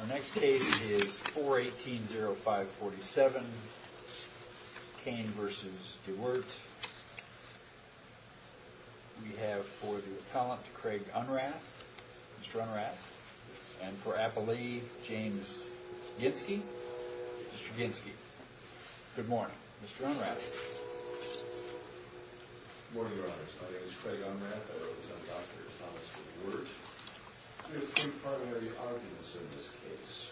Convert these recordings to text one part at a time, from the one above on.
Our next case is 4-18-05-47. Cain v. DeWeert. We have for the appellant, Craig Unrath. Mr. Unrath. And for appellee, James Gidsky. Mr. Gidsky. Good morning. Mr. Unrath. Good morning, your honors. My name is Craig Unrath. I wrote this on Dr. Thomas DeWeert. We have three primary arguments in this case.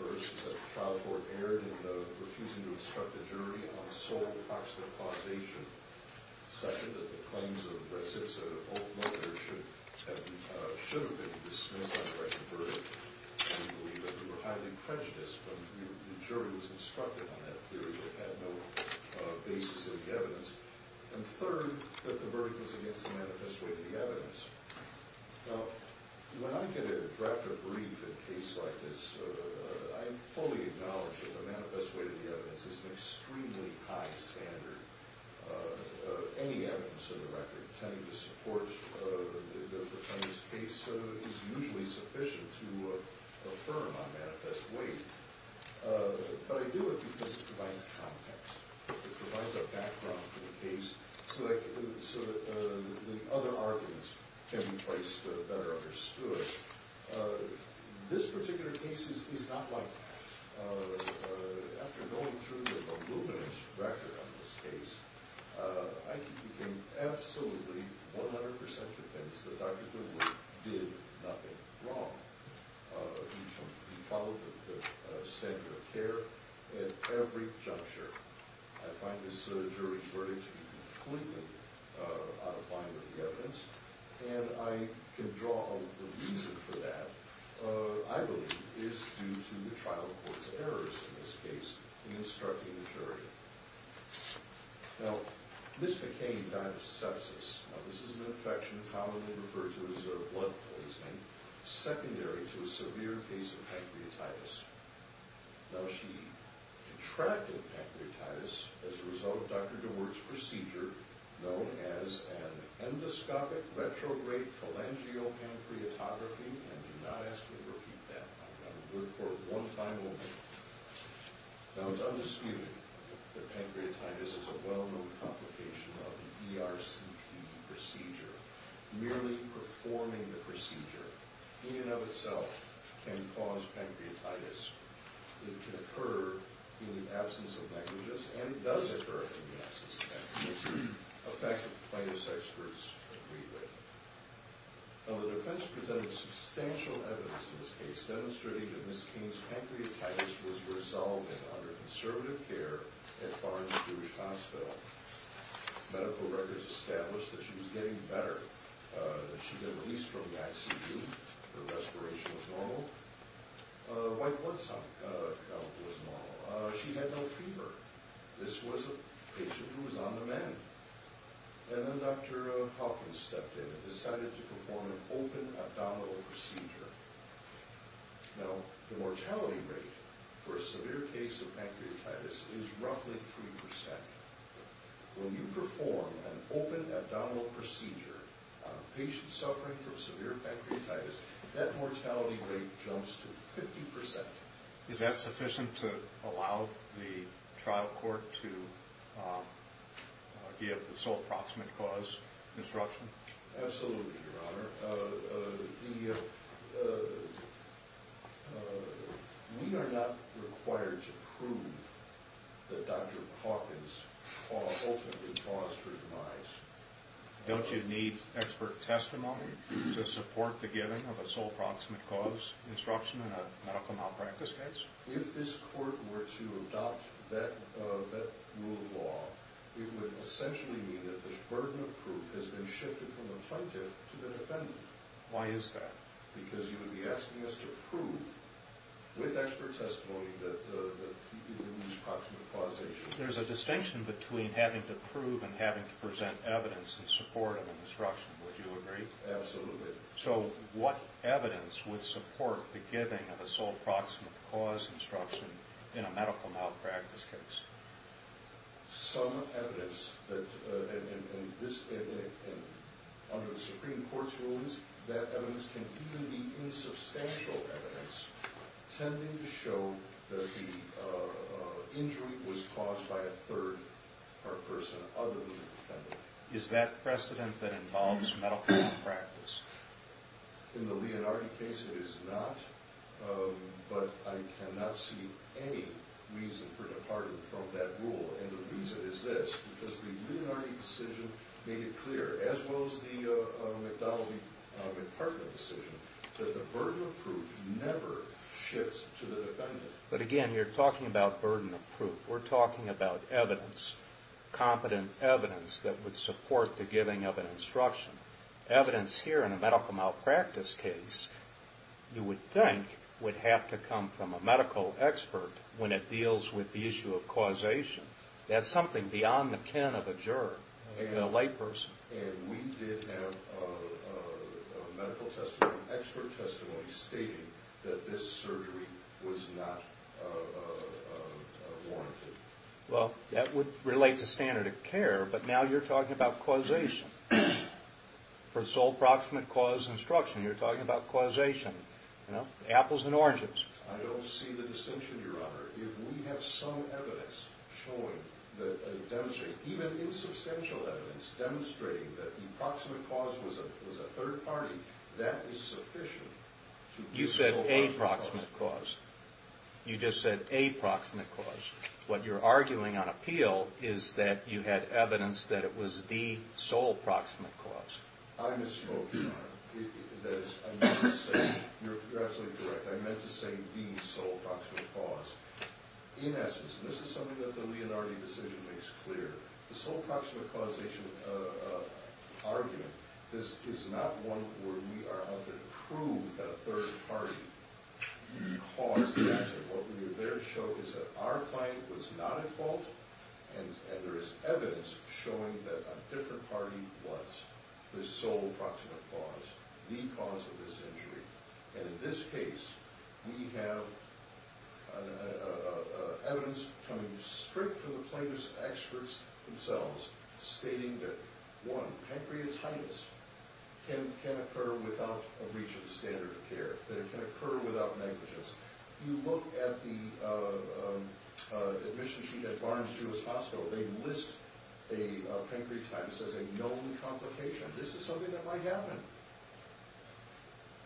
First, that the trial court erred in refusing to instruct the jury on the sole proximal causation. Second, that the claims of Brasitsa and her old mother should have been dismissed on the correctional verdict. We believe that they were highly prejudiced when the jury was instructed on that theory. They had no basis in the evidence. And third, that the verdict was against the manifest way of the evidence. Now, when I get a draft of a brief in a case like this, I fully acknowledge that the manifest way of the evidence is an extremely high standard. Any evidence in the record tending to support the defendant's case is usually sufficient to affirm a manifest way. But I do it because it provides context. It provides a background for the case so that the other arguments can be placed better understood. This particular case is not like that. After going through the voluminous record on this case, I can give you absolutely 100% defense that Dr. DeWeert did nothing wrong. He followed the standard of care at every juncture. I find this jury's verdict to be completely out of line with the evidence. And I can draw the reason for that, I believe, is due to the trial court's errors in this case in instructing the jury. Now, Ms. McCain died of sepsis. Now, this is an infection commonly referred to as a blood poisoning, secondary to a severe case of pancreatitis. Now, she contracted pancreatitis as a result of Dr. DeWeert's procedure known as an endoscopic retrograde phalangeal pancreatography. And do not ask me to repeat that. I'm going to do it for one final moment. Now, it's undisputed that pancreatitis is a well-known complication of the ERCP procedure. Merely performing the procedure in and of itself can cause pancreatitis. It can occur in the absence of negligence, and it does occur in the absence of negligence, a fact that plaintiff's experts agree with. Now, the defense presented substantial evidence in this case, demonstrating that Ms. McCain's pancreatitis was resolved and under conservative care at Barnes-Jewish Hospital. Medical records established that she was getting better. She had been released from the ICU. Her respiration was normal. White blood cell count was normal. She had no fever. This was a patient who was on demand. And then Dr. Hawkins stepped in and decided to perform an open abdominal procedure. Now, the mortality rate for a severe case of pancreatitis is roughly 3%. When you perform an open abdominal procedure on a patient suffering from severe pancreatitis, that mortality rate jumps to 50%. Is that sufficient to allow the trial court to give the sole proximate cause instruction? Absolutely, Your Honor. We are not required to prove that Dr. Hawkins ultimately caused her demise. Don't you need expert testimony to support the giving of a sole proximate cause instruction in a medical malpractice case? If this court were to adopt that rule of law, it would essentially mean that this burden of proof has been shifted from the plaintiff to the defendant. Why is that? Because you would be asking us to prove with expert testimony that he didn't use proximate causation. There's a distinction between having to prove and having to present evidence in support of an instruction. Would you agree? Absolutely. So, what evidence would support the giving of a sole proximate cause instruction in a medical malpractice case? Some evidence, and under the Supreme Court's rulings, that evidence can even be insubstantial evidence, tending to show that the injury was caused by a third person other than the defendant. Is that precedent that involves medical malpractice? In the Leonardi case, it is not, but I cannot see any reason for departing from that rule. And the reason is this, because the Leonardi decision made it clear, as well as the McDonald-McPartland decision, that the burden of proof never shifts to the defendant. But again, you're talking about burden of proof. We're talking about evidence, competent evidence, that would support the giving of an instruction. Evidence here in a medical malpractice case, you would think, would have to come from a medical expert when it deals with the issue of causation. That's something beyond the kin of a juror, even a layperson. And we did have medical testimony, expert testimony, stating that this surgery was not warranted. Well, that would relate to standard of care, but now you're talking about causation. For sole proximate cause instruction, you're talking about causation. Apples and oranges. I don't see the distinction, Your Honor. If we have some evidence showing, demonstrating, even insubstantial evidence, demonstrating that the proximate cause was a third party, that is sufficient. You said a proximate cause. You just said a proximate cause. What you're arguing on appeal is that you had evidence that it was the sole proximate cause. I misspoke, Your Honor. You're absolutely correct. I meant to say the sole proximate cause. In essence, this is something that the Leonardi decision makes clear. The sole proximate causation argument, this is not one where we are out there to prove that a third party caused the accident. What we are there to show is that our client was not at fault, and there is evidence showing that a different party was the sole proximate cause, the cause of this injury. And in this case, we have evidence coming straight from the plaintiff's experts themselves, stating that, one, pancreatitis can occur without a breach of the standard of care, that it can occur without negligence. If you look at the admission sheet at Barnes-Jewish Hospital, they list a pancreatitis as a known complication. This is something that might happen.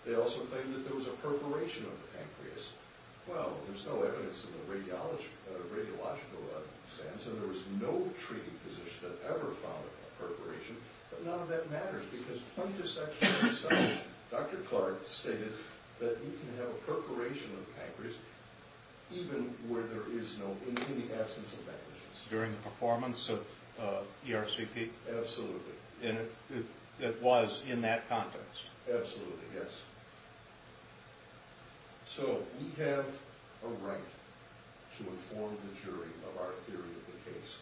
They also claim that there was a perforation of the pancreas. Well, there's no evidence in the radiological sense, and there was no treating physician that ever found a perforation, but none of that matters because plaintiff's experts themselves, Dr. Clark, stated that you can have a perforation of the pancreas even where there is no, in the absence of negligence. During the performance of ERCP? Absolutely. And it was in that context? Absolutely, yes. So we have a right to inform the jury of our theory of the case.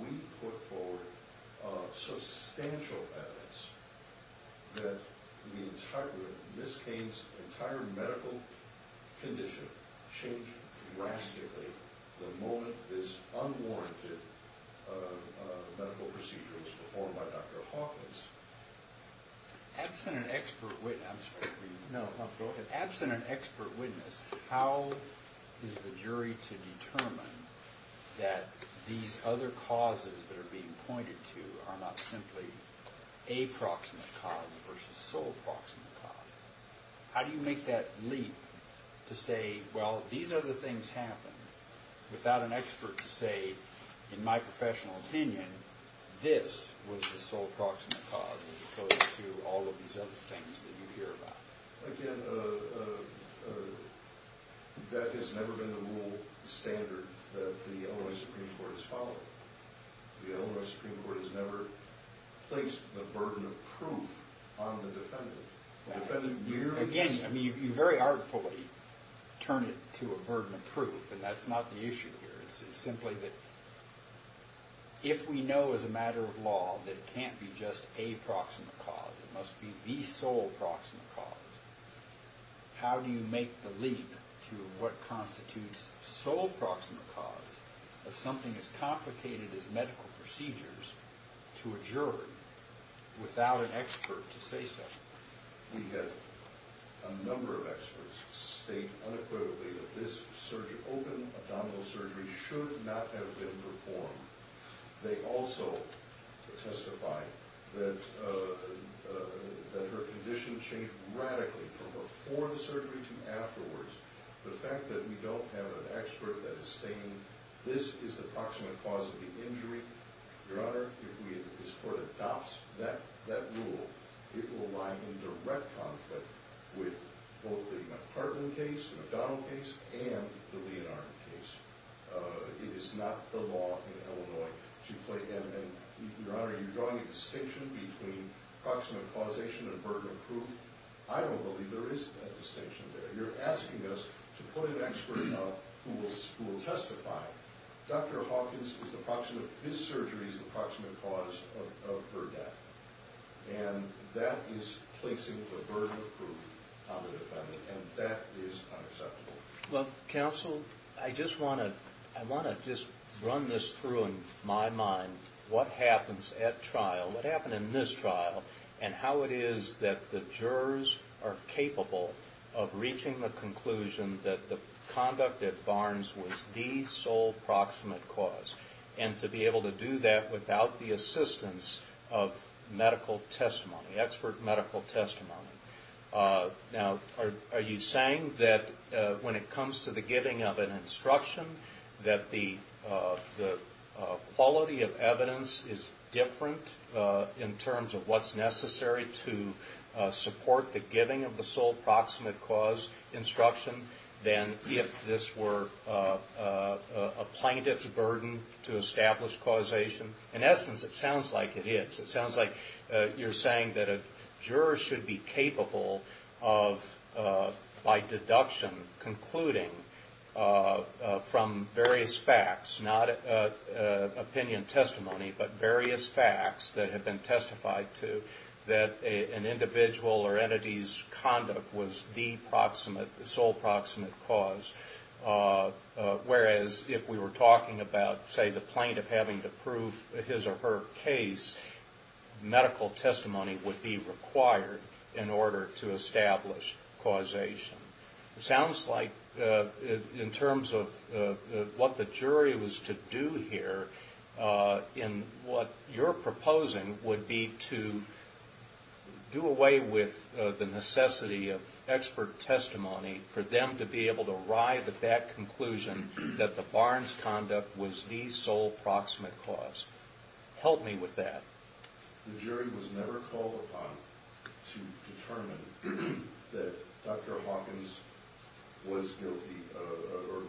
We put forward substantial evidence that Ms. Cain's entire medical condition changed drastically the moment this unwarranted medical procedure was performed by Dr. Hawkins. Absent an expert witness, how is the jury to determine that these other causes that are being pointed to are not simply a proximate cause versus sole proximate cause? How do you make that leap to say, well, these other things happened without an expert to say, in my professional opinion, this was the sole proximate cause as opposed to all of these other things that you hear about? Again, that has never been the rule standard that the Illinois Supreme Court has followed. The Illinois Supreme Court has never placed the burden of proof on the defendant. Again, you very artfully turn it to a burden of proof, and that's not the issue here. It's simply that if we know as a matter of law that it can't be just a proximate cause, that it must be the sole proximate cause, how do you make the leap to what constitutes sole proximate cause of something as complicated as medical procedures to a jury without an expert to say so? We had a number of experts state unequivocally that this open abdominal surgery should not have been performed. They also testified that her condition changed radically from before the surgery to afterwards. The fact that we don't have an expert that is saying this is the proximate cause of the injury, Your Honor, if this court adopts that rule, it will lie in direct conflict with both the McPartland case, the McDonald case, and the Leonhardt case. It is not the law in Illinois to play them. Your Honor, you're drawing a distinction between proximate causation and burden of proof. I don't believe there is a distinction there. You're asking us to put an expert up who will testify. Dr. Hawkins, his surgery is the proximate cause of her death, and that is placing the burden of proof on the defendant, and that is unacceptable. Well, counsel, I want to just run this through in my mind, what happens at trial, what happened in this trial, and how it is that the jurors are capable of reaching the conclusion that the conduct at Barnes was the sole proximate cause, and to be able to do that without the assistance of medical testimony, expert medical testimony. Now, are you saying that when it comes to the giving of an instruction, that the quality of evidence is different in terms of what's necessary to support the giving of the sole proximate cause instruction than if this were a plaintiff's burden to establish causation? In essence, it sounds like it is. It sounds like you're saying that a juror should be capable of, by deduction, concluding from various facts, not opinion testimony, but various facts that have been testified to that an individual or entity's conduct was the sole proximate cause, whereas if we were talking about, say, the plaintiff having to prove his or her case, medical testimony would be required in order to establish causation. It sounds like, in terms of what the jury was to do here, in what you're proposing would be to do away with the necessity of expert testimony for them to be able to arrive at that conclusion that the barn's conduct was the sole proximate cause. Help me with that. The jury was never called upon to determine that Dr. Hawkins was guilty or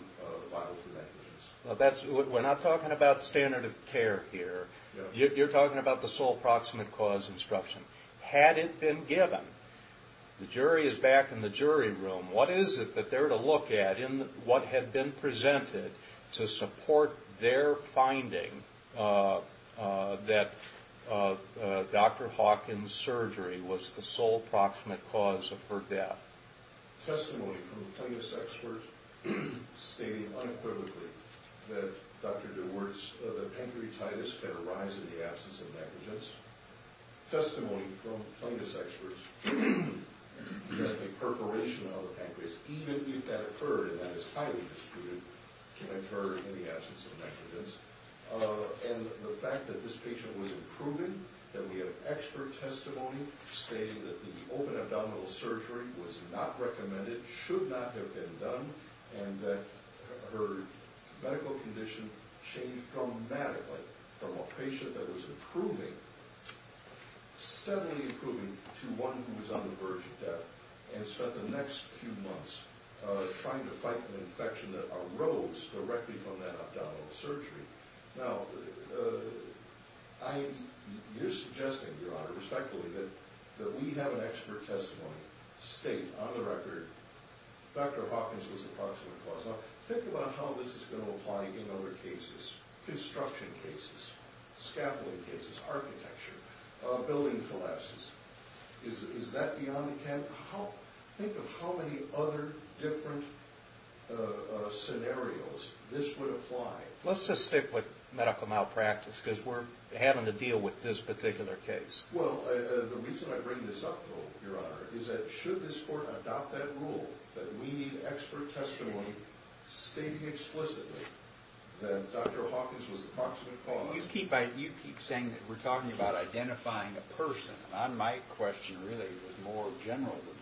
filed for negligence. We're not talking about standard of care here. You're talking about the sole proximate cause instruction. Had it been given, the jury is back in the jury room. What is it that they're to look at in what had been presented to support their finding that Dr. Hawkins' surgery was the sole proximate cause of her death? Testimony from plaintiff's experts stating unequivocally that Dr. DeWart's pancreatitis can arise in the absence of negligence. Testimony from plaintiff's experts that the perforation of the pancreas, even if that occurred and that is highly disputed, can occur in the absence of negligence. And the fact that this patient was proven, that we have expert testimony stating that the open abdominal surgery was not recommended, should not have been done, and that her medical condition changed dramatically from a patient that was improving, steadily improving, to one who was on the verge of death and spent the next few months trying to fight an infection that arose directly from that abdominal surgery. Now, you're suggesting, Your Honor, respectfully, that we have an expert testimony stating, on the record, Dr. Hawkins was the proximate cause. Think about how this is going to apply in other cases, construction cases, scaffolding cases, architecture, building collapses. Is that beyond the cap? Think of how many other different scenarios this would apply. Let's just stick with medical malpractice because we're having to deal with this particular case. Well, the reason I bring this up, Your Honor, is that should this Court adopt that rule that we need expert testimony stating explicitly that Dr. Hawkins was the proximate cause? You keep saying that we're talking about identifying a person. My question really is more general than that.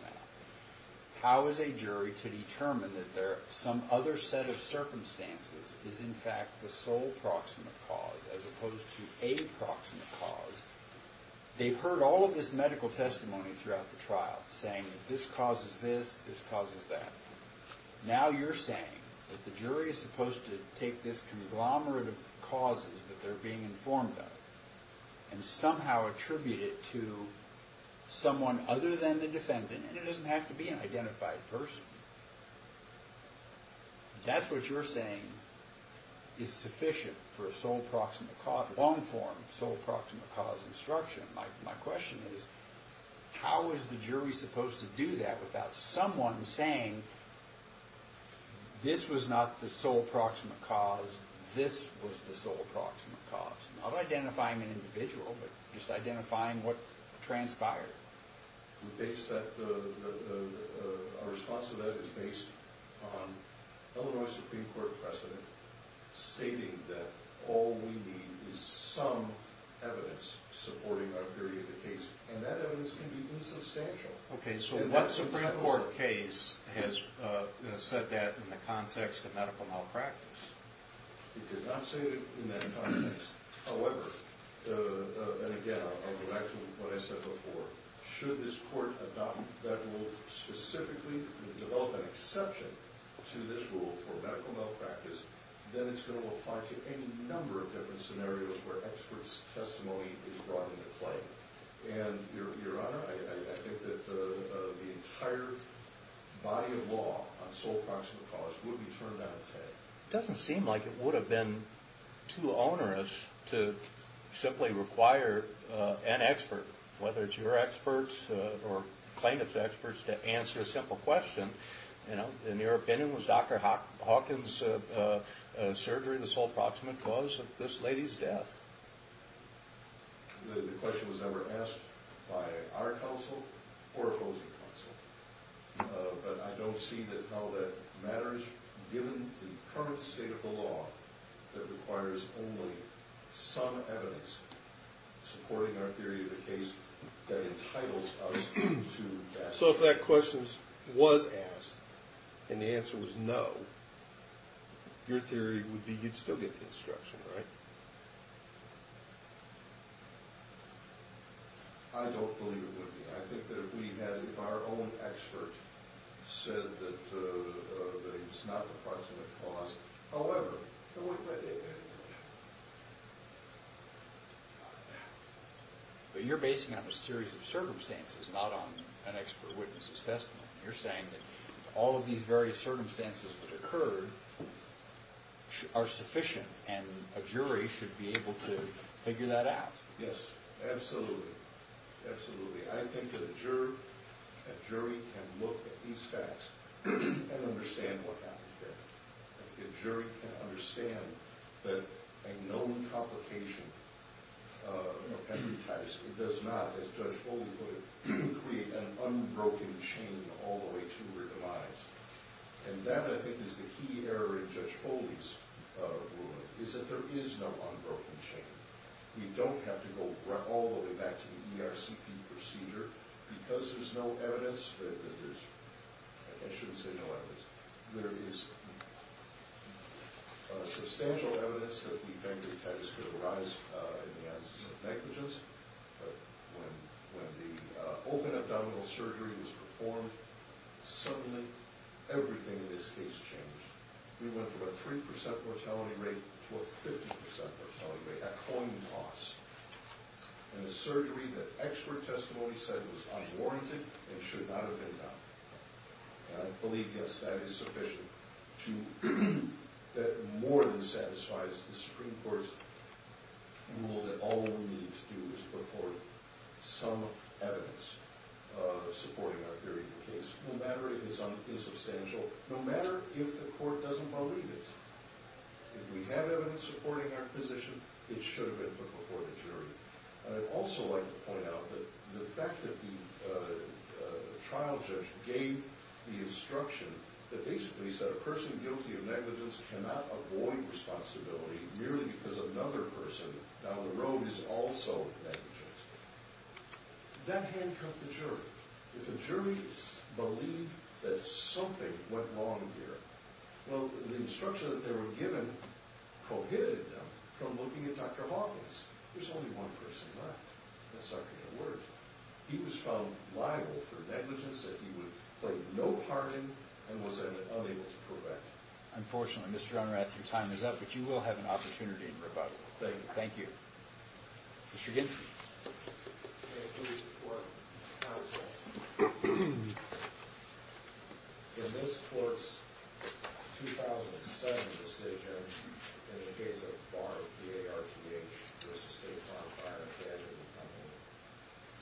How is a jury to determine that some other set of circumstances is, in fact, the sole proximate cause as opposed to a proximate cause? They've heard all of this medical testimony throughout the trial saying this causes this, this causes that. Now you're saying that the jury is supposed to take this conglomerate of causes that they're being informed of and somehow attribute it to someone other than the defendant, and it doesn't have to be an identified person. If that's what you're saying is sufficient for a long-form sole proximate cause instruction, my question is how is the jury supposed to do that without someone saying this was not the sole proximate cause, this was the sole proximate cause? Not identifying an individual, but just identifying what transpired. Our response to that is based on Illinois Supreme Court precedent stating that all we need is some evidence supporting our theory of the case, and that evidence can be insubstantial. Okay, so what Supreme Court case has said that in the context of medical malpractice? It did not say it in that context. However, and again I'll go back to what I said before, should this court adopt that rule specifically to develop an exception to this rule for medical malpractice, then it's going to apply to any number of different scenarios where expert's testimony is brought into play. And your honor, I think that the entire body of law on sole proximate cause would be turned on its head. It doesn't seem like it would have been too onerous to simply require an expert, whether it's your experts or plaintiff's experts, to answer a simple question. In your opinion, was Dr. Hawkins' surgery the sole proximate cause of this lady's death? The question was never asked by our counsel or opposing counsel. But I don't see how that matters given the current state of the law that requires only some evidence supporting our theory of the case that entitles us to that. So if that question was asked and the answer was no, your theory would be you'd still get the instruction, right? I don't believe it would be. I think that if we had if our own expert said that it's not the proximate cause, however... But you're basing it on a series of circumstances, not on an expert witness's testimony. You're saying that all of these various circumstances that occurred are sufficient and a jury should be able to figure that out. Yes, absolutely. Absolutely. I think that a jury can look at these facts and understand what happened there. A jury can understand that a known complication of every type does not, as Judge Foley put it, create an unbroken chain all the way to her demise. And that, I think, is the key error in Judge Foley's ruling, is that there is no unbroken chain. We don't have to go all the way back to the ERCP procedure because there's no evidence that there's... Substantial evidence that the pancreatitis could arise in the absence of negligence. But when the open abdominal surgery was performed, suddenly everything in this case changed. We went from a 3% mortality rate to a 50% mortality rate at coin toss. In a surgery that expert testimony said was unwarranted and should not have been done. I believe, yes, that is sufficient to... That more than satisfies the Supreme Court's rule that all we need to do is put forth some evidence supporting our theory of the case. No matter if it's unsubstantial, no matter if the court doesn't believe it. If we have evidence supporting our position, it should have been put before the jury. I'd also like to point out that the fact that the trial judge gave the instruction that basically said a person guilty of negligence cannot avoid responsibility merely because another person down the road is also negligent. That handcuffed the jury. If the jury believed that something went wrong here, well, the instruction that they were given prohibited them from looking at Dr. Hawkins. There's only one person left, and that's Dr. Edwards. He was found liable for negligence that he would play no part in and was then unable to prevent. Unfortunately, Mr. Unrath, your time is up, but you will have an opportunity in rebuttal. Thank you. Mr. Ginsky. Thank you, Mr. Court. Counsel, in this court's 2007 decision in the case of Barr v. A.R.T.H. v. State Farm Fire,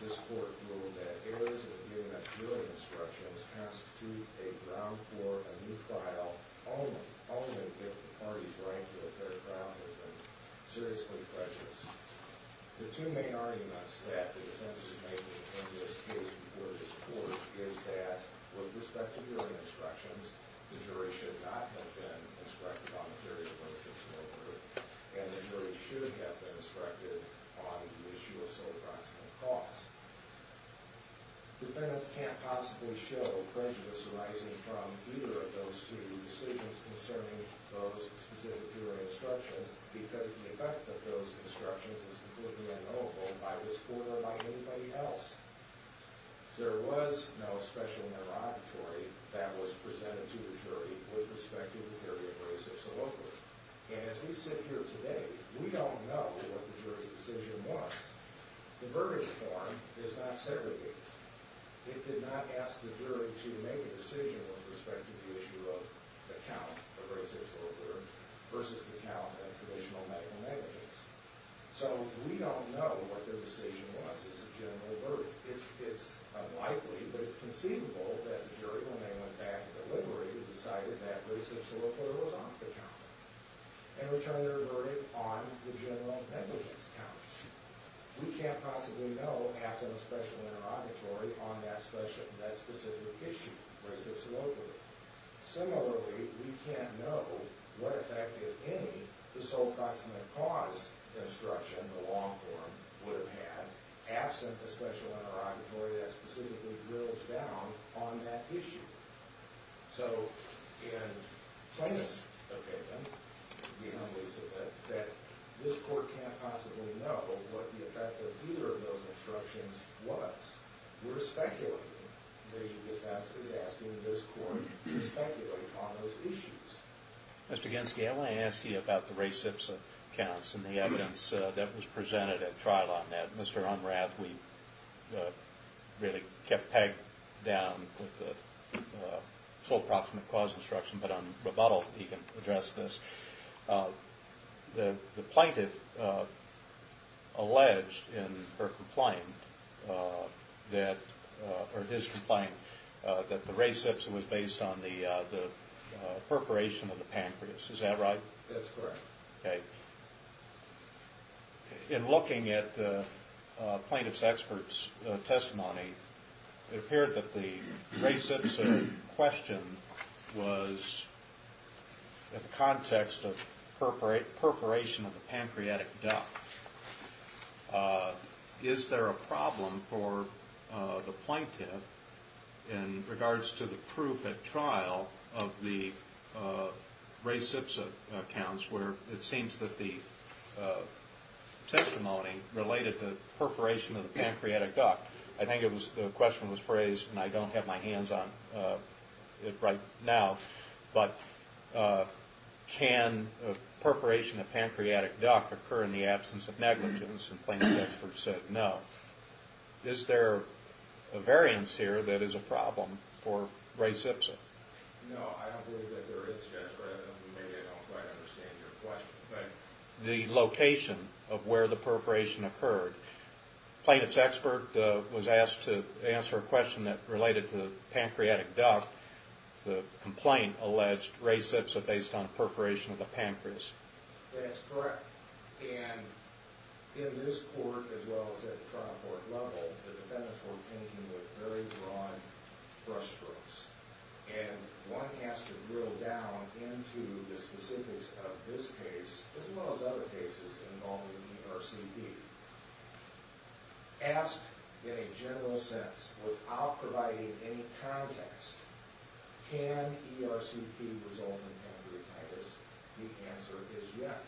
this court ruled that errors in the viewing instructions constitute a ground for a new trial only if the parties rank that their trial has been seriously prejudiced. The two main arguments that the defendants are making in this case before this court is that, with respect to viewing instructions, the jury should not have been inspected on the period of 26 May 3rd, and the jury should have been inspected on the issue of civil proximity costs. Defendants can't possibly show prejudice arising from either of those two decisions concerning those specific jury instructions because the effect of those instructions is completely unknowable by this court or by anybody else. There was no special interrogatory that was presented to the jury with respect to the theory of racist soliloquy. And as we sit here today, we don't know what the jury's decision was. The verdict form is not segregated. It did not ask the jury to make a decision with respect to the issue of the count of racist soliloquy versus the count of traditional medical negligence. So we don't know what their decision was as a general verdict. It's unlikely, but it's conceivable that the jury, when they went back to the library, decided that racist soliloquy was off the count and returned their verdict on the general negligence counts. We can't possibly know, absent a special interrogatory, on that specific issue, racist soliloquy. Similarly, we can't know what effect, if any, the sole proximate cause instruction, the long form, would have had, absent a special interrogatory that specifically drills down on that issue. So in plaintiff's opinion, we know that this court can't possibly know what the effect of either of those instructions was. We're speculating. The defense is asking this court to speculate on those issues. Mr. Genske, I want to ask you about the racist counts and the evidence that was presented at trial on that. Mr. Unrath, we really kept Peg down with the sole proximate cause instruction, but on rebuttal, he can address this. The plaintiff alleged in her complaint that, or his complaint, that the race that was based on the perforation of the pancreas. Is that right? That's correct. Okay. In looking at the plaintiff's expert's testimony, it appeared that the racist question was in the context of perforation of the pancreatic duct. Is there a problem for the plaintiff in regards to the proof at trial of the racist accounts where it seems that the testimony related to perforation of the pancreatic duct. I think the question was phrased, and I don't have my hands on it right now, but can perforation of pancreatic duct occur in the absence of negligence? The plaintiff's expert said no. Is there a variance here that is a problem for Ray Sipson? No, I don't believe that there is. I don't quite understand your question. The location of where the perforation occurred. The plaintiff's expert was asked to answer a question that related to the pancreatic duct. The complaint alleged Ray Sipson based on perforation of the pancreas. That's correct. And in this court, as well as at the trial court level, the defendants were thinking with very broad brush strokes. And one has to drill down into the specifics of this case, as well as other cases involving ERCP. Asked in a general sense, without providing any context, can ERCP result in pancreatitis? The answer is yes,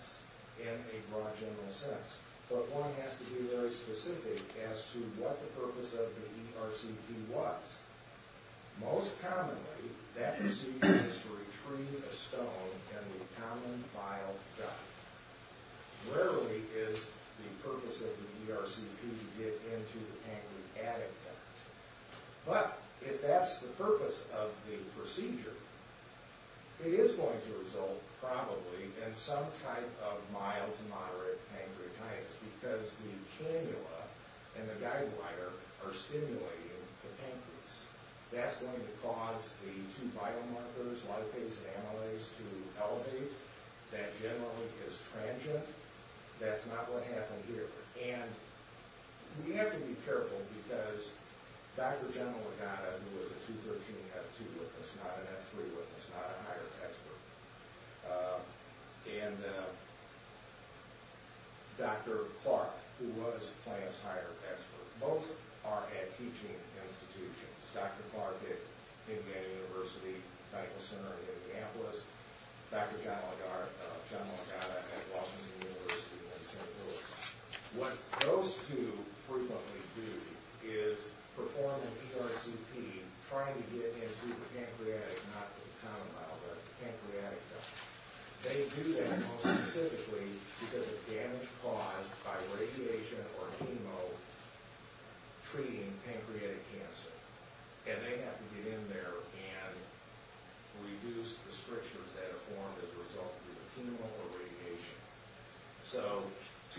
in a broad general sense. But one has to be very specific as to what the purpose of the ERCP was. Most commonly, that procedure is to retrieve a stone and a common vial duct. Rarely is the purpose of the ERCP to get into the pancreatic duct. But if that's the purpose of the procedure, it is going to result probably in some type of mild to moderate pancreatitis. Because the cannula and the guiding wire are stimulating the pancreas. That's going to cause the two biomarkers, lipase and amylase, to elevate. That generally is transient. That's not what happened here. We have to be careful, because Dr. John Legata, who was a 2013 F2 witness, not an F3 witness, not a hired expert. And Dr. Clark, who was Plans hired expert. Both are at teaching institutions. Dr. Clark at Indiana University Medical Center in Annapolis. Dr. John Legata at Washington University in St. Louis. What those two frequently do is perform an ERCP trying to get into the pancreatic, not the common vial duct, pancreatic duct. They do that most specifically because of damage caused by radiation or chemo treating pancreatic cancer. And they have to get in there and reduce the strictures that are formed as a result of the chemo or radiation. So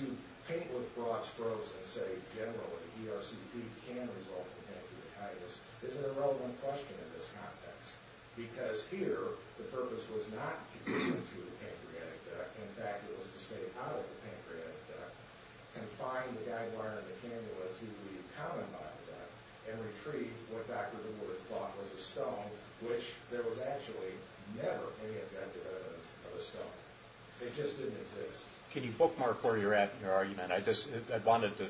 to paint with broad strokes and say generally ERCP can result in pancreatitis is an irrelevant question in this context. Because here, the purpose was not to get into the pancreatic duct. In fact, it was to stay out of the pancreatic duct and find the guide wire and the cannula to the common vial duct and retreat what Dr. DeWood thought was a stone, which there was actually never any evidence of a stone. It just didn't exist. Can you bookmark where you're at in your argument? I just wanted to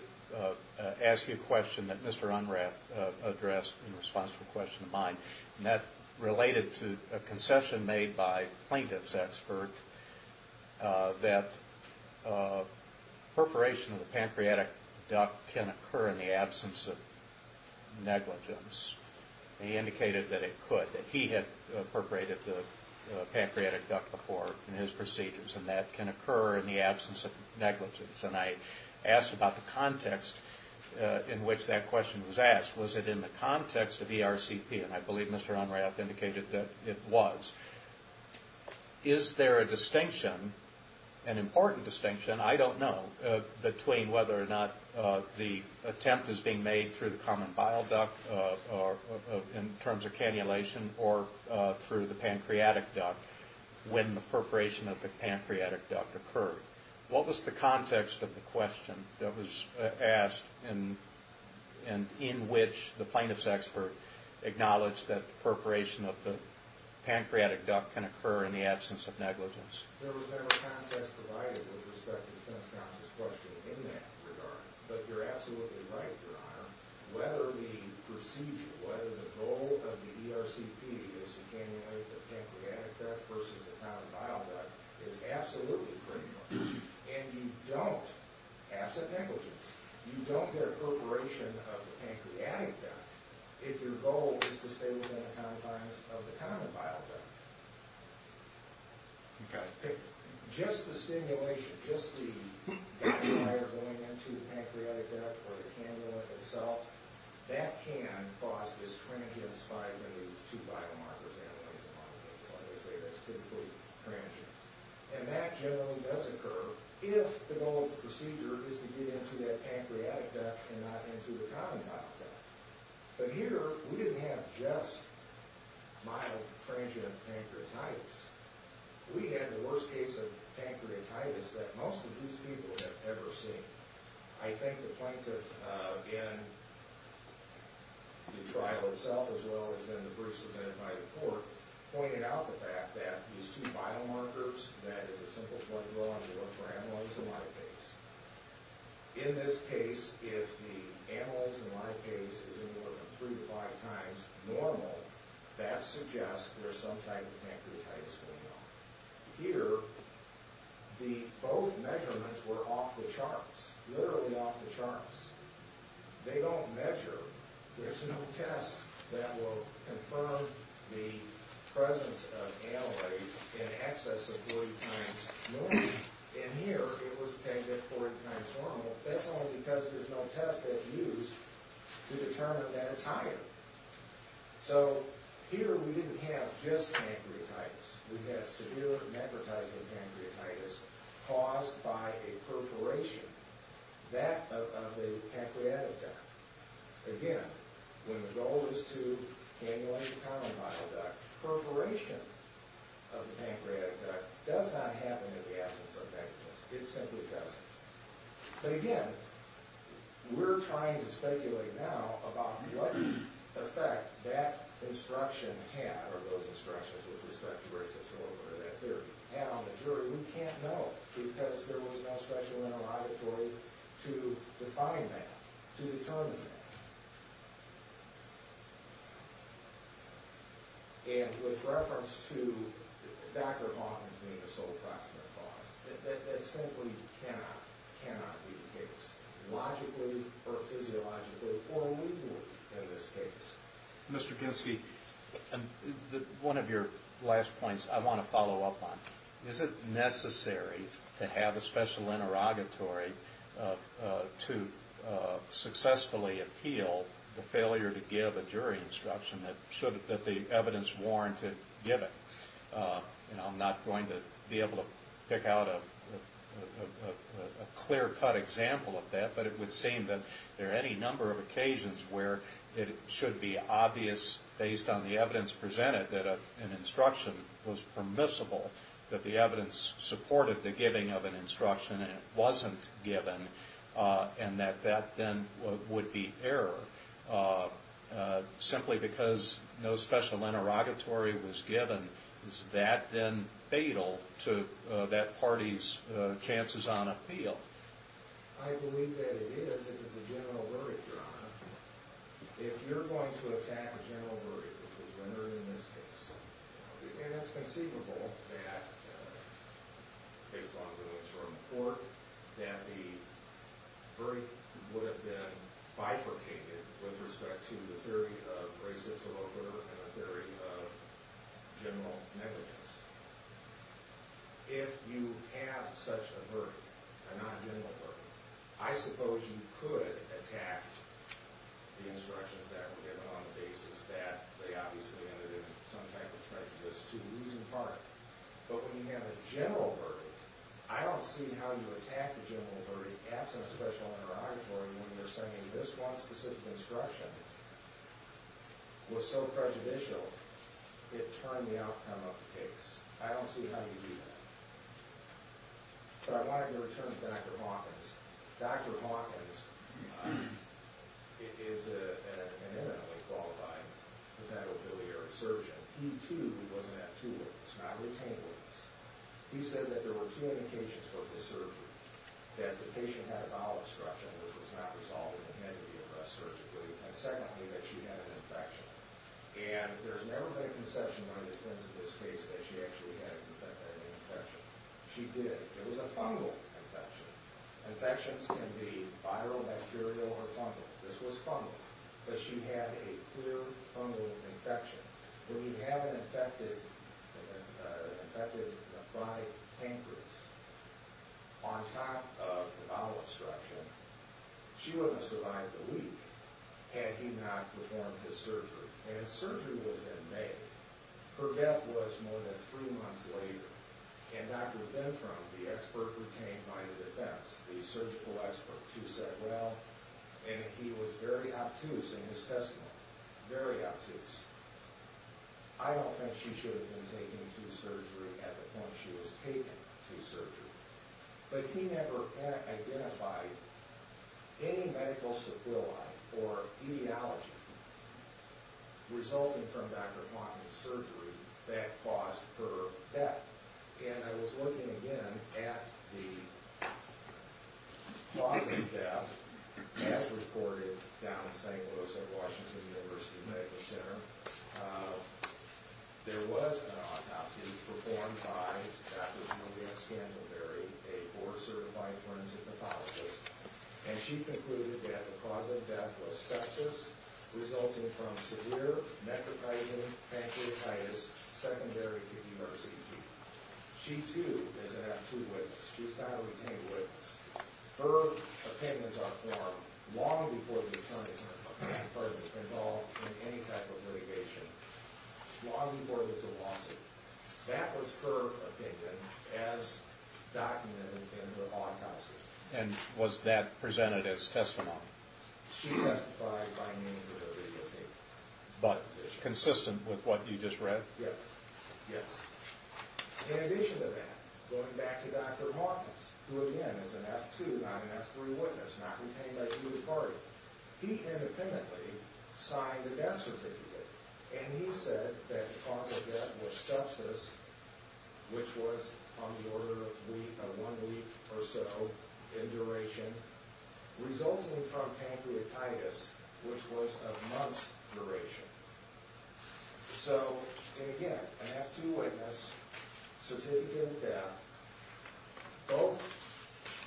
ask you a question that Mr. Unrath addressed in response to a question of mine. And that related to a concession made by a plaintiff's expert that perforation of the pancreatic duct can occur in the absence of negligence. He indicated that it could, that he had perforated the pancreatic duct before in his procedures and that can occur in the absence of negligence. And I asked about the context in which that question was asked. Was it in the context of ERCP? And I believe Mr. Unrath indicated that it was. Is there a distinction, an important distinction, I don't know, between whether or not the attempt is being made through the common vial duct in terms of cannulation or through the pancreatic duct when the perforation of the pancreatic duct occurred? What was the context of the question that was asked and in which the plaintiff's expert acknowledged that perforation of the pancreatic duct can occur in the absence of negligence? There was never context provided with respect to Defense Counsel's question in that regard. But you're absolutely right, Your Honor. Whether the procedure, whether the goal of the ERCP is to cannulate the pancreatic duct versus the common vial duct is absolutely critical. And you don't, absent negligence, you don't get a perforation of the pancreatic duct if your goal is to stay within the confines of the common vial duct. Just the stimulation, just the gut fire going into the pancreatic duct or the cannula itself, that can cause this transient spike in these two biomarkers, amyloids and monocytes, like I say, that's typically transient. And that generally does occur if the goal of the procedure is to get into that pancreatic duct and not into the common vial duct. But here, we didn't have just mild transient pancreatitis. We had the worst case of pancreatitis that most of these people have ever seen. I think the plaintiff in the trial itself, as well as in the briefs submitted by the court, pointed out the fact that these two biomarkers, that is a simple point of law, and they work for amyloids and monocytes. In this case, if the amyloids and monocytes is anywhere from three to five times normal, that suggests there's some type of pancreatitis going on. Here, both measurements were off the charts. Literally off the charts. They don't measure. There's no test that will confirm the presence of amyloids in excess of three times normal. And here, it was pegged at three times normal. That's only because there's no test that's used to determine that it's higher. So here, we didn't have just pancreatitis. We had severe necrotizing pancreatitis caused by a perforation of the pancreatic duct. Again, when the goal is to amylate the common myeloid duct, perforation of the pancreatic duct does not happen in the absence of necrotizing. It simply doesn't. But again, we're trying to speculate now about what effect that instruction had, or those instructions with respect to race absorber, that there had on the jury. We can't know because there was no special interrogatory to define that, to determine that. And with reference to Dr. Hawkins being the sole proximate cause, that simply cannot, cannot be the case, logically or physiologically or legally in this case. Mr. Kinski, one of your last points I want to follow up on. Is it necessary to have a special interrogatory to successfully appeal the failure to give a jury instruction that the evidence warranted given? I'm not going to be able to pick out a clear-cut example of that, but it would seem that there are any number of occasions where it should be obvious, based on the evidence presented, that an instruction was permissible, that the evidence supported the giving of an instruction and it wasn't given, and that that then would be error. Simply because no special interrogatory was given, is that then fatal to that party's chances on appeal? I believe that it is if it's a general verdict, Your Honor. If you're going to attack a general verdict, which was rendered in this case, and it's conceivable that, based on the evidence from the court, that the verdict would have been bifurcated with respect to the theory of racist subordinator and the theory of general negligence. If you have such a verdict, a non-general verdict, I suppose you could attack the instructions that were given on the basis that they obviously ended in some type of prejudice to the losing party. But when you have a general verdict, I don't see how you attack a general verdict absent a special interrogatory when you're saying this one specific instruction was so prejudicial it turned the outcome of the case. I don't see how you do that. But I wanted to return to Dr. Hawkins. Dr. Hawkins is an eminently qualified congenital biliary surgeon. He, too, was an F2 witness, not a retained witness. He said that there were two indications for the surgery, that the patient had a bowel obstruction which was not resolved and had to be addressed surgically, and secondly, that she had an infection. And there's never been a conception on the defense of this case that she actually had an infection. She did. It was a fungal infection. Infections can be viral, bacterial, or fungal. This was fungal. But she had a clear fungal infection. When you have an infected bronchic pancreas on top of the bowel obstruction, she wouldn't have survived a week had he not performed his surgery. And his surgery was in May. Her death was more than three months later. And Dr. Benthrom, the expert retained by the defense, the surgical expert, who said, well, and he was very obtuse in his testimony, very obtuse, I don't think she should have been taken to surgery at the point she was taken to surgery. But he never identified any medical sublime or etiology resulting from Dr. Klockman's surgery that caused her death. And I was looking again at the positive death as reported down in St. Louis at Washington University Medical Center. There was an autopsy performed by Dr. Julia Scandalberry, a board-certified forensic pathologist. And she concluded that the cause of death was sepsis resulting from severe necroplasm, pancreatitis, secondary kidney mercy. She, too, is an absolute witness. She's not a retained witness. Her opinions are formed long before the attorney and person involved in any type of litigation, long before there's a lawsuit. That was her opinion as documented in the autopsy. And was that presented as testimony? She testified by means of a legal paper. But consistent with what you just read? Yes, yes. In addition to that, going back to Dr. Hawkins, who, again, is an F2, not an F3 witness, not retained by either party, he independently signed the death certificate. And he said that the cause of death was sepsis, which was on the order of one week or so in duration, So, and again, an F2 witness, certificate of death, both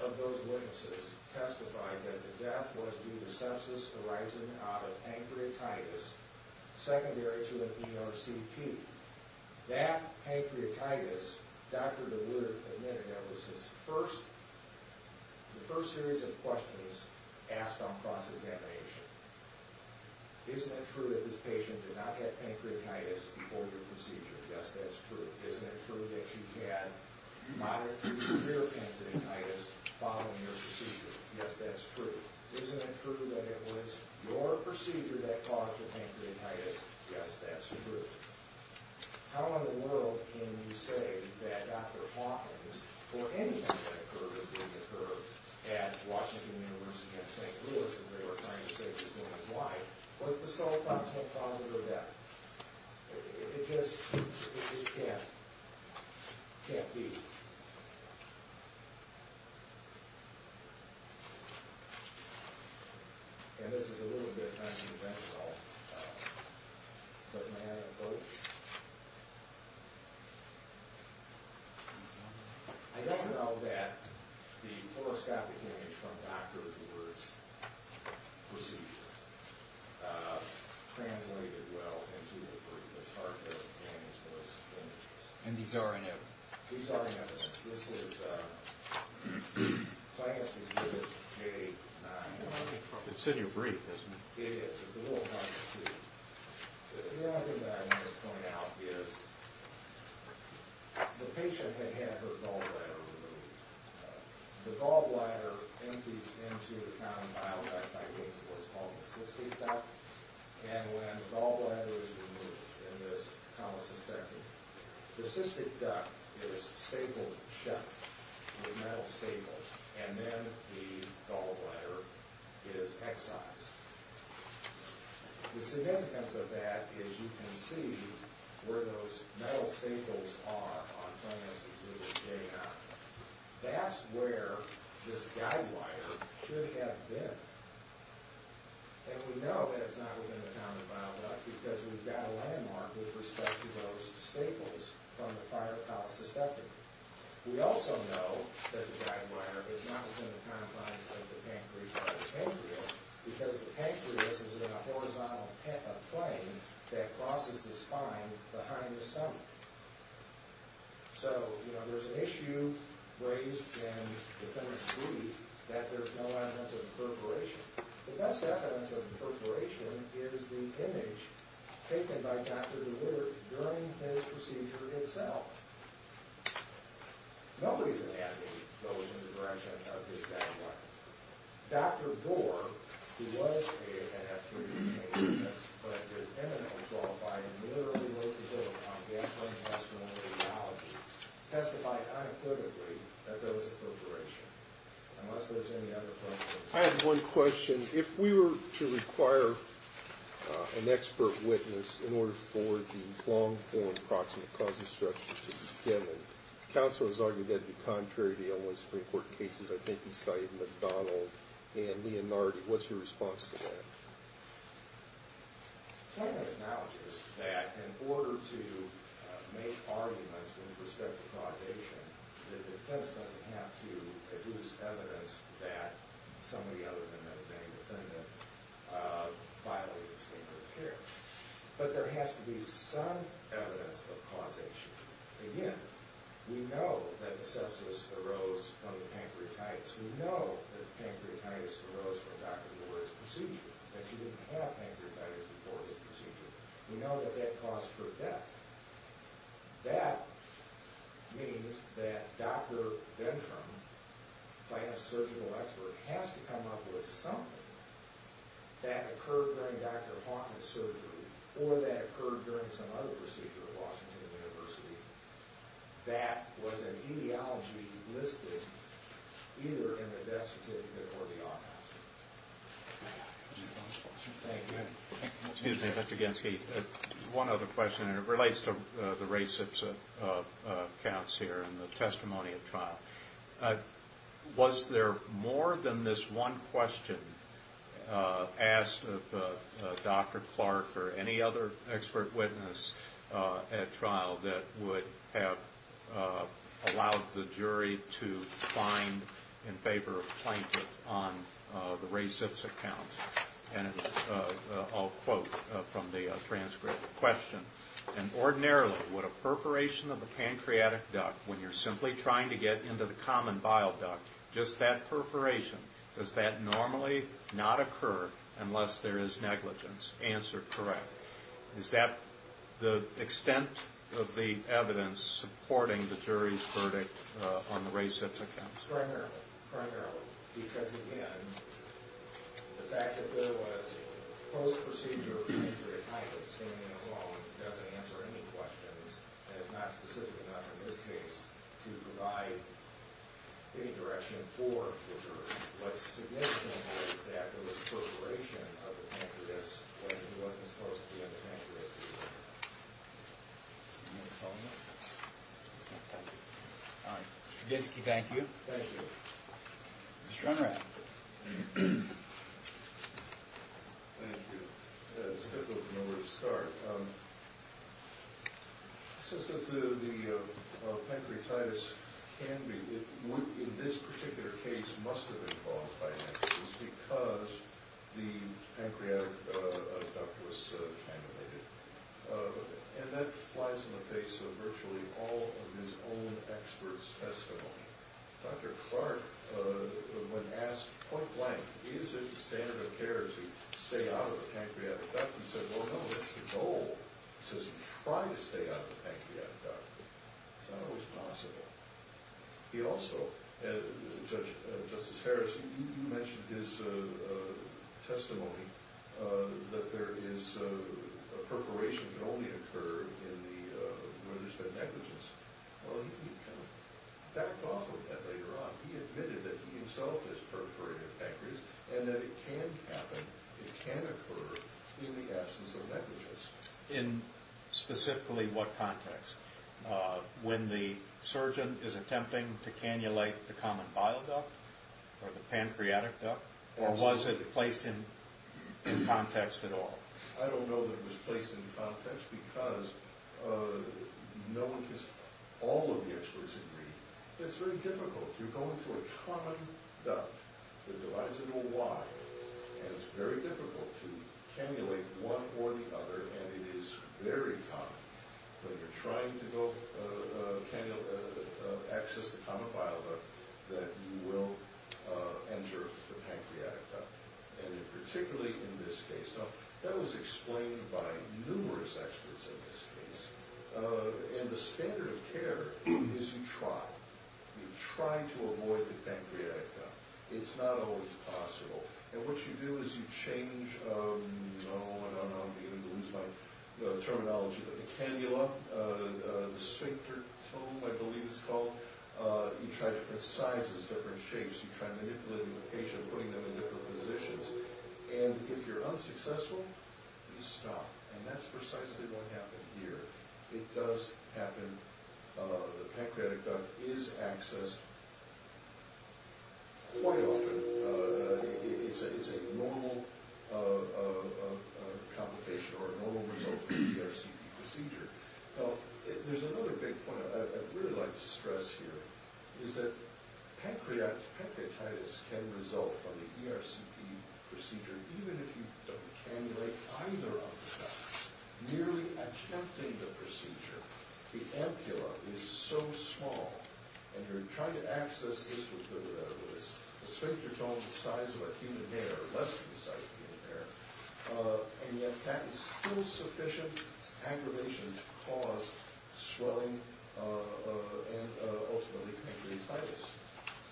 of those witnesses testified that the death was due to sepsis arising out of pancreatitis, secondary to an ERCP. That pancreatitis, Dr. DeWood admitted that was his first, the first series of questions asked on cross-examination. Isn't it true that this patient did not have pancreatitis before your procedure? Yes, that's true. Isn't it true that you had moderate to severe pancreatitis following your procedure? Yes, that's true. Isn't it true that it was your procedure that caused the pancreatitis? Yes, that's true. How in the world can you say that Dr. Hawkins, or anyone that occurred, at Washington University in St. Louis, as they were trying to save his wife, was the sole cause of her death? It just, it just can't, can't be. And this is a little bit controversial, but may I have a quote? I don't know that the horoscopic image from Dr. DeWood's procedure translated well into the brief. It's hard to manage those images. And these are in evidence? These are in evidence. This is, if I have to give it a... It's in your brief, isn't it? It is. It's a little hard to see. The other thing that I want to point out is the patient had had her gallbladder removed. The gallbladder empties into the common bile duct by means of what's called the cystic duct. And when the gallbladder is removed in this common cystectomy, the cystic duct is stapled shut with metal staples, and then the gallbladder is excised. The significance of that is you can see where those metal staples are on some instances, but they're not. That's where this guide wire should have been. And we know that it's not within the common bile duct because we've got a landmark with respect to those staples from the prior colic cystectomy. We also know that the guide wire is not within the confines of the pancreas or the pancreas because the pancreas is in a horizontal plane that crosses the spine behind the stomach. So, you know, there's an issue raised in defendant's brief that there's no evidence of perforation. The best evidence of perforation is the image taken by Dr. DeWitter during his procedure itself. Nobody's anatomy goes in the direction of this guide wire. Dr. Gore, who was a NF3 patient, but is eminently involved by a military local on gastrointestinal radiology, testified unequivocally that there was a perforation, unless there's any other evidence. I have one question. If we were to require an expert witness in order for the long-form proximate causal structure to be given, the counsel has argued that it would be contrary to the L1 Supreme Court cases I think he cited McDonald and Leonardi. What's your response to that? The claimant acknowledges that in order to make arguments with respect to causation, the defense doesn't have to produce evidence that somebody other than the main defendant violated the standard of care. But there has to be some evidence of causation. Again, we know that the sepsis arose from the pancreatitis. We know that the pancreatitis arose from Dr. Gore's procedure, that she didn't have pancreatitis before his procedure. We know that that caused her death. That means that Dr. Ventram, if I have a surgical expert, has to come up with something that occurred during Dr. Hawkins' surgery or that occurred during some other procedure at Washington University, that was an etiology listed either in the death certificate or the autopsy. Thank you. Excuse me, Dr. Genske. One other question, and it relates to the race of counts here and the testimony of trial. Was there more than this one question asked of Dr. Clark or any other expert witness at trial that would have allowed the jury to find in favor of plaintiff on the race of counts? And I'll quote from the transcript. The question, and ordinarily would a perforation of the pancreatic duct when you're simply trying to get into the common bile duct, just that perforation, does that normally not occur unless there is negligence? Answer, correct. Is that the extent of the evidence supporting the jury's verdict on the race of counts? Primarily, primarily, because, again, the fact that there was post-procedure period of time of standing alone doesn't answer any questions, and it's not specific enough in this case to provide any direction for the jury. What's significant is that there was perforation of the pancreas when it wasn't supposed to be on the pancreas. Any other comments? Thank you. All right, Mr. Getsky, thank you. Thank you. Mr. Unrath. Thank you. Let's go from where we started. It says that the pancreatitis can be, it would in this particular case, must have been caused by pancreas because the pancreatic duct was cannulated, and that flies in the face of virtually all of his own expert's testimony. Dr. Clark, when asked point blank, is it standard of care to stay out of the pancreatic duct, he said, well, no, that's the goal. He says, try to stay out of the pancreatic duct. It's not always possible. He also, Justice Harris, you mentioned his testimony that there is, a perforation can only occur when there's been negligence. Well, he kind of backed off of that later on. He admitted that he himself has perforated the pancreas and that it can happen, it can occur, in the absence of negligence. In specifically what context? When the surgeon is attempting to cannulate the common bile duct or the pancreatic duct, or was it placed in context at all? I don't know that it was placed in context because no one, all of the experts agree that it's very difficult to go into a common duct that divides into a Y, and it's very difficult to cannulate one or the other, and it is very common. When you're trying to go access the common bile duct, that you will enter the pancreatic duct, and particularly in this case. Now, that was explained by numerous experts in this case, and the standard of care is you try. You try to avoid the pancreatic duct. It's not always possible, and what you do is you change, no, no, no, I'm beginning to lose my terminology, but the cannula, the sphincter tum, I believe it's called, you try different sizes, different shapes. You try manipulating the patient, putting them in different positions, and if you're unsuccessful, you stop, and that's precisely what happened here. It does happen. The pancreatic duct is accessed quite often. It's a normal complication or a normal result of the RCP procedure. Now, there's another big point. I'd really like to stress here is that pancreatitis can result from the ERCP procedure, even if you don't cannulate either of the ducts. Nearly attempting the procedure, the ampulla is so small, and you're trying to access this with the sphincter tum the size of a human hair, less than the size of a human hair, and yet that is still sufficient aggravation to cause swelling and ultimately pancreatitis.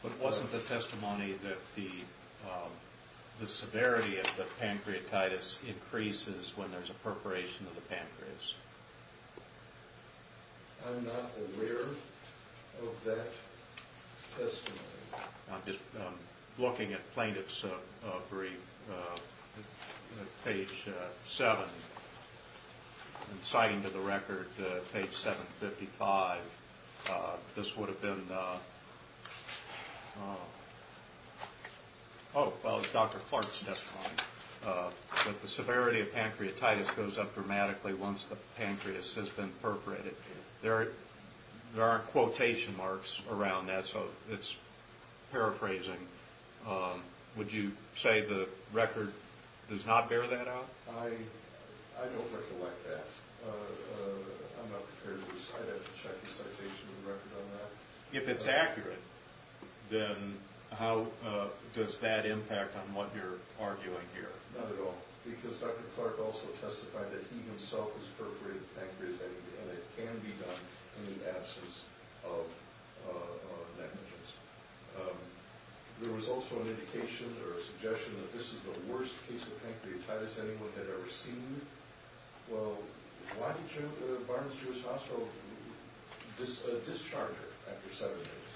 But wasn't the testimony that the severity of the pancreatitis increases when there's a perforation of the pancreas? I'm not aware of that testimony. I'm just looking at plaintiff's brief, page 7, and citing to the record, page 755, this would have been Dr. Clark's testimony, that the severity of pancreatitis goes up dramatically once the pancreas has been perforated. There aren't quotation marks around that, so it's paraphrasing. Would you say the record does not bear that out? I don't recollect that. I'm not prepared to recite it. I'd have to check the citation of the record on that. If it's accurate, then how does that impact on what you're arguing here? Not at all, because Dr. Clark also testified that he himself has perforated the pancreas, and it can be done in the absence of negligence. There was also an indication or a suggestion that this is the worst case of pancreatitis anyone had ever seen. Well, why did Barnes-Jewish Hospital discharge her after seven days?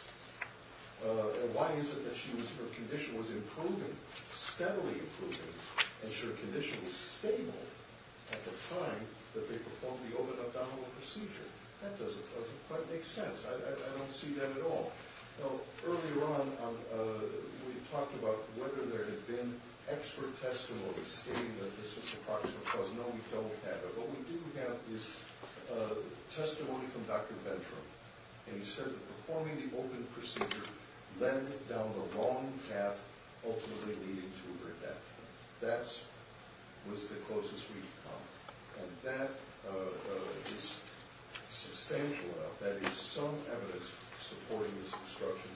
Why is it that her condition was improving, steadily improving, and her condition was stable at the time that they performed the open abdominal procedure? That doesn't quite make sense. I don't see that at all. Well, earlier on, we talked about whether there had been expert testimony stating that this was a proximate cause. No, we don't have it. But we do have this testimony from Dr. Ventram, and he said that performing the open procedure led down the wrong path, ultimately leading to her death. That was the closest we could come. And that is substantial enough. That is some evidence supporting this obstruction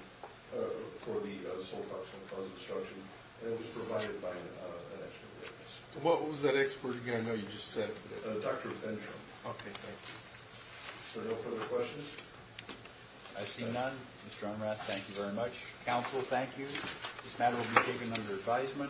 for the sole cause obstruction, and it was provided by an expert witness. What was that expert again? I know you just said Dr. Ventram. Okay, thank you. Are there no further questions? I see none. Mr. Onrath, thank you very much. Counsel, thank you. This matter will be taken under advisement.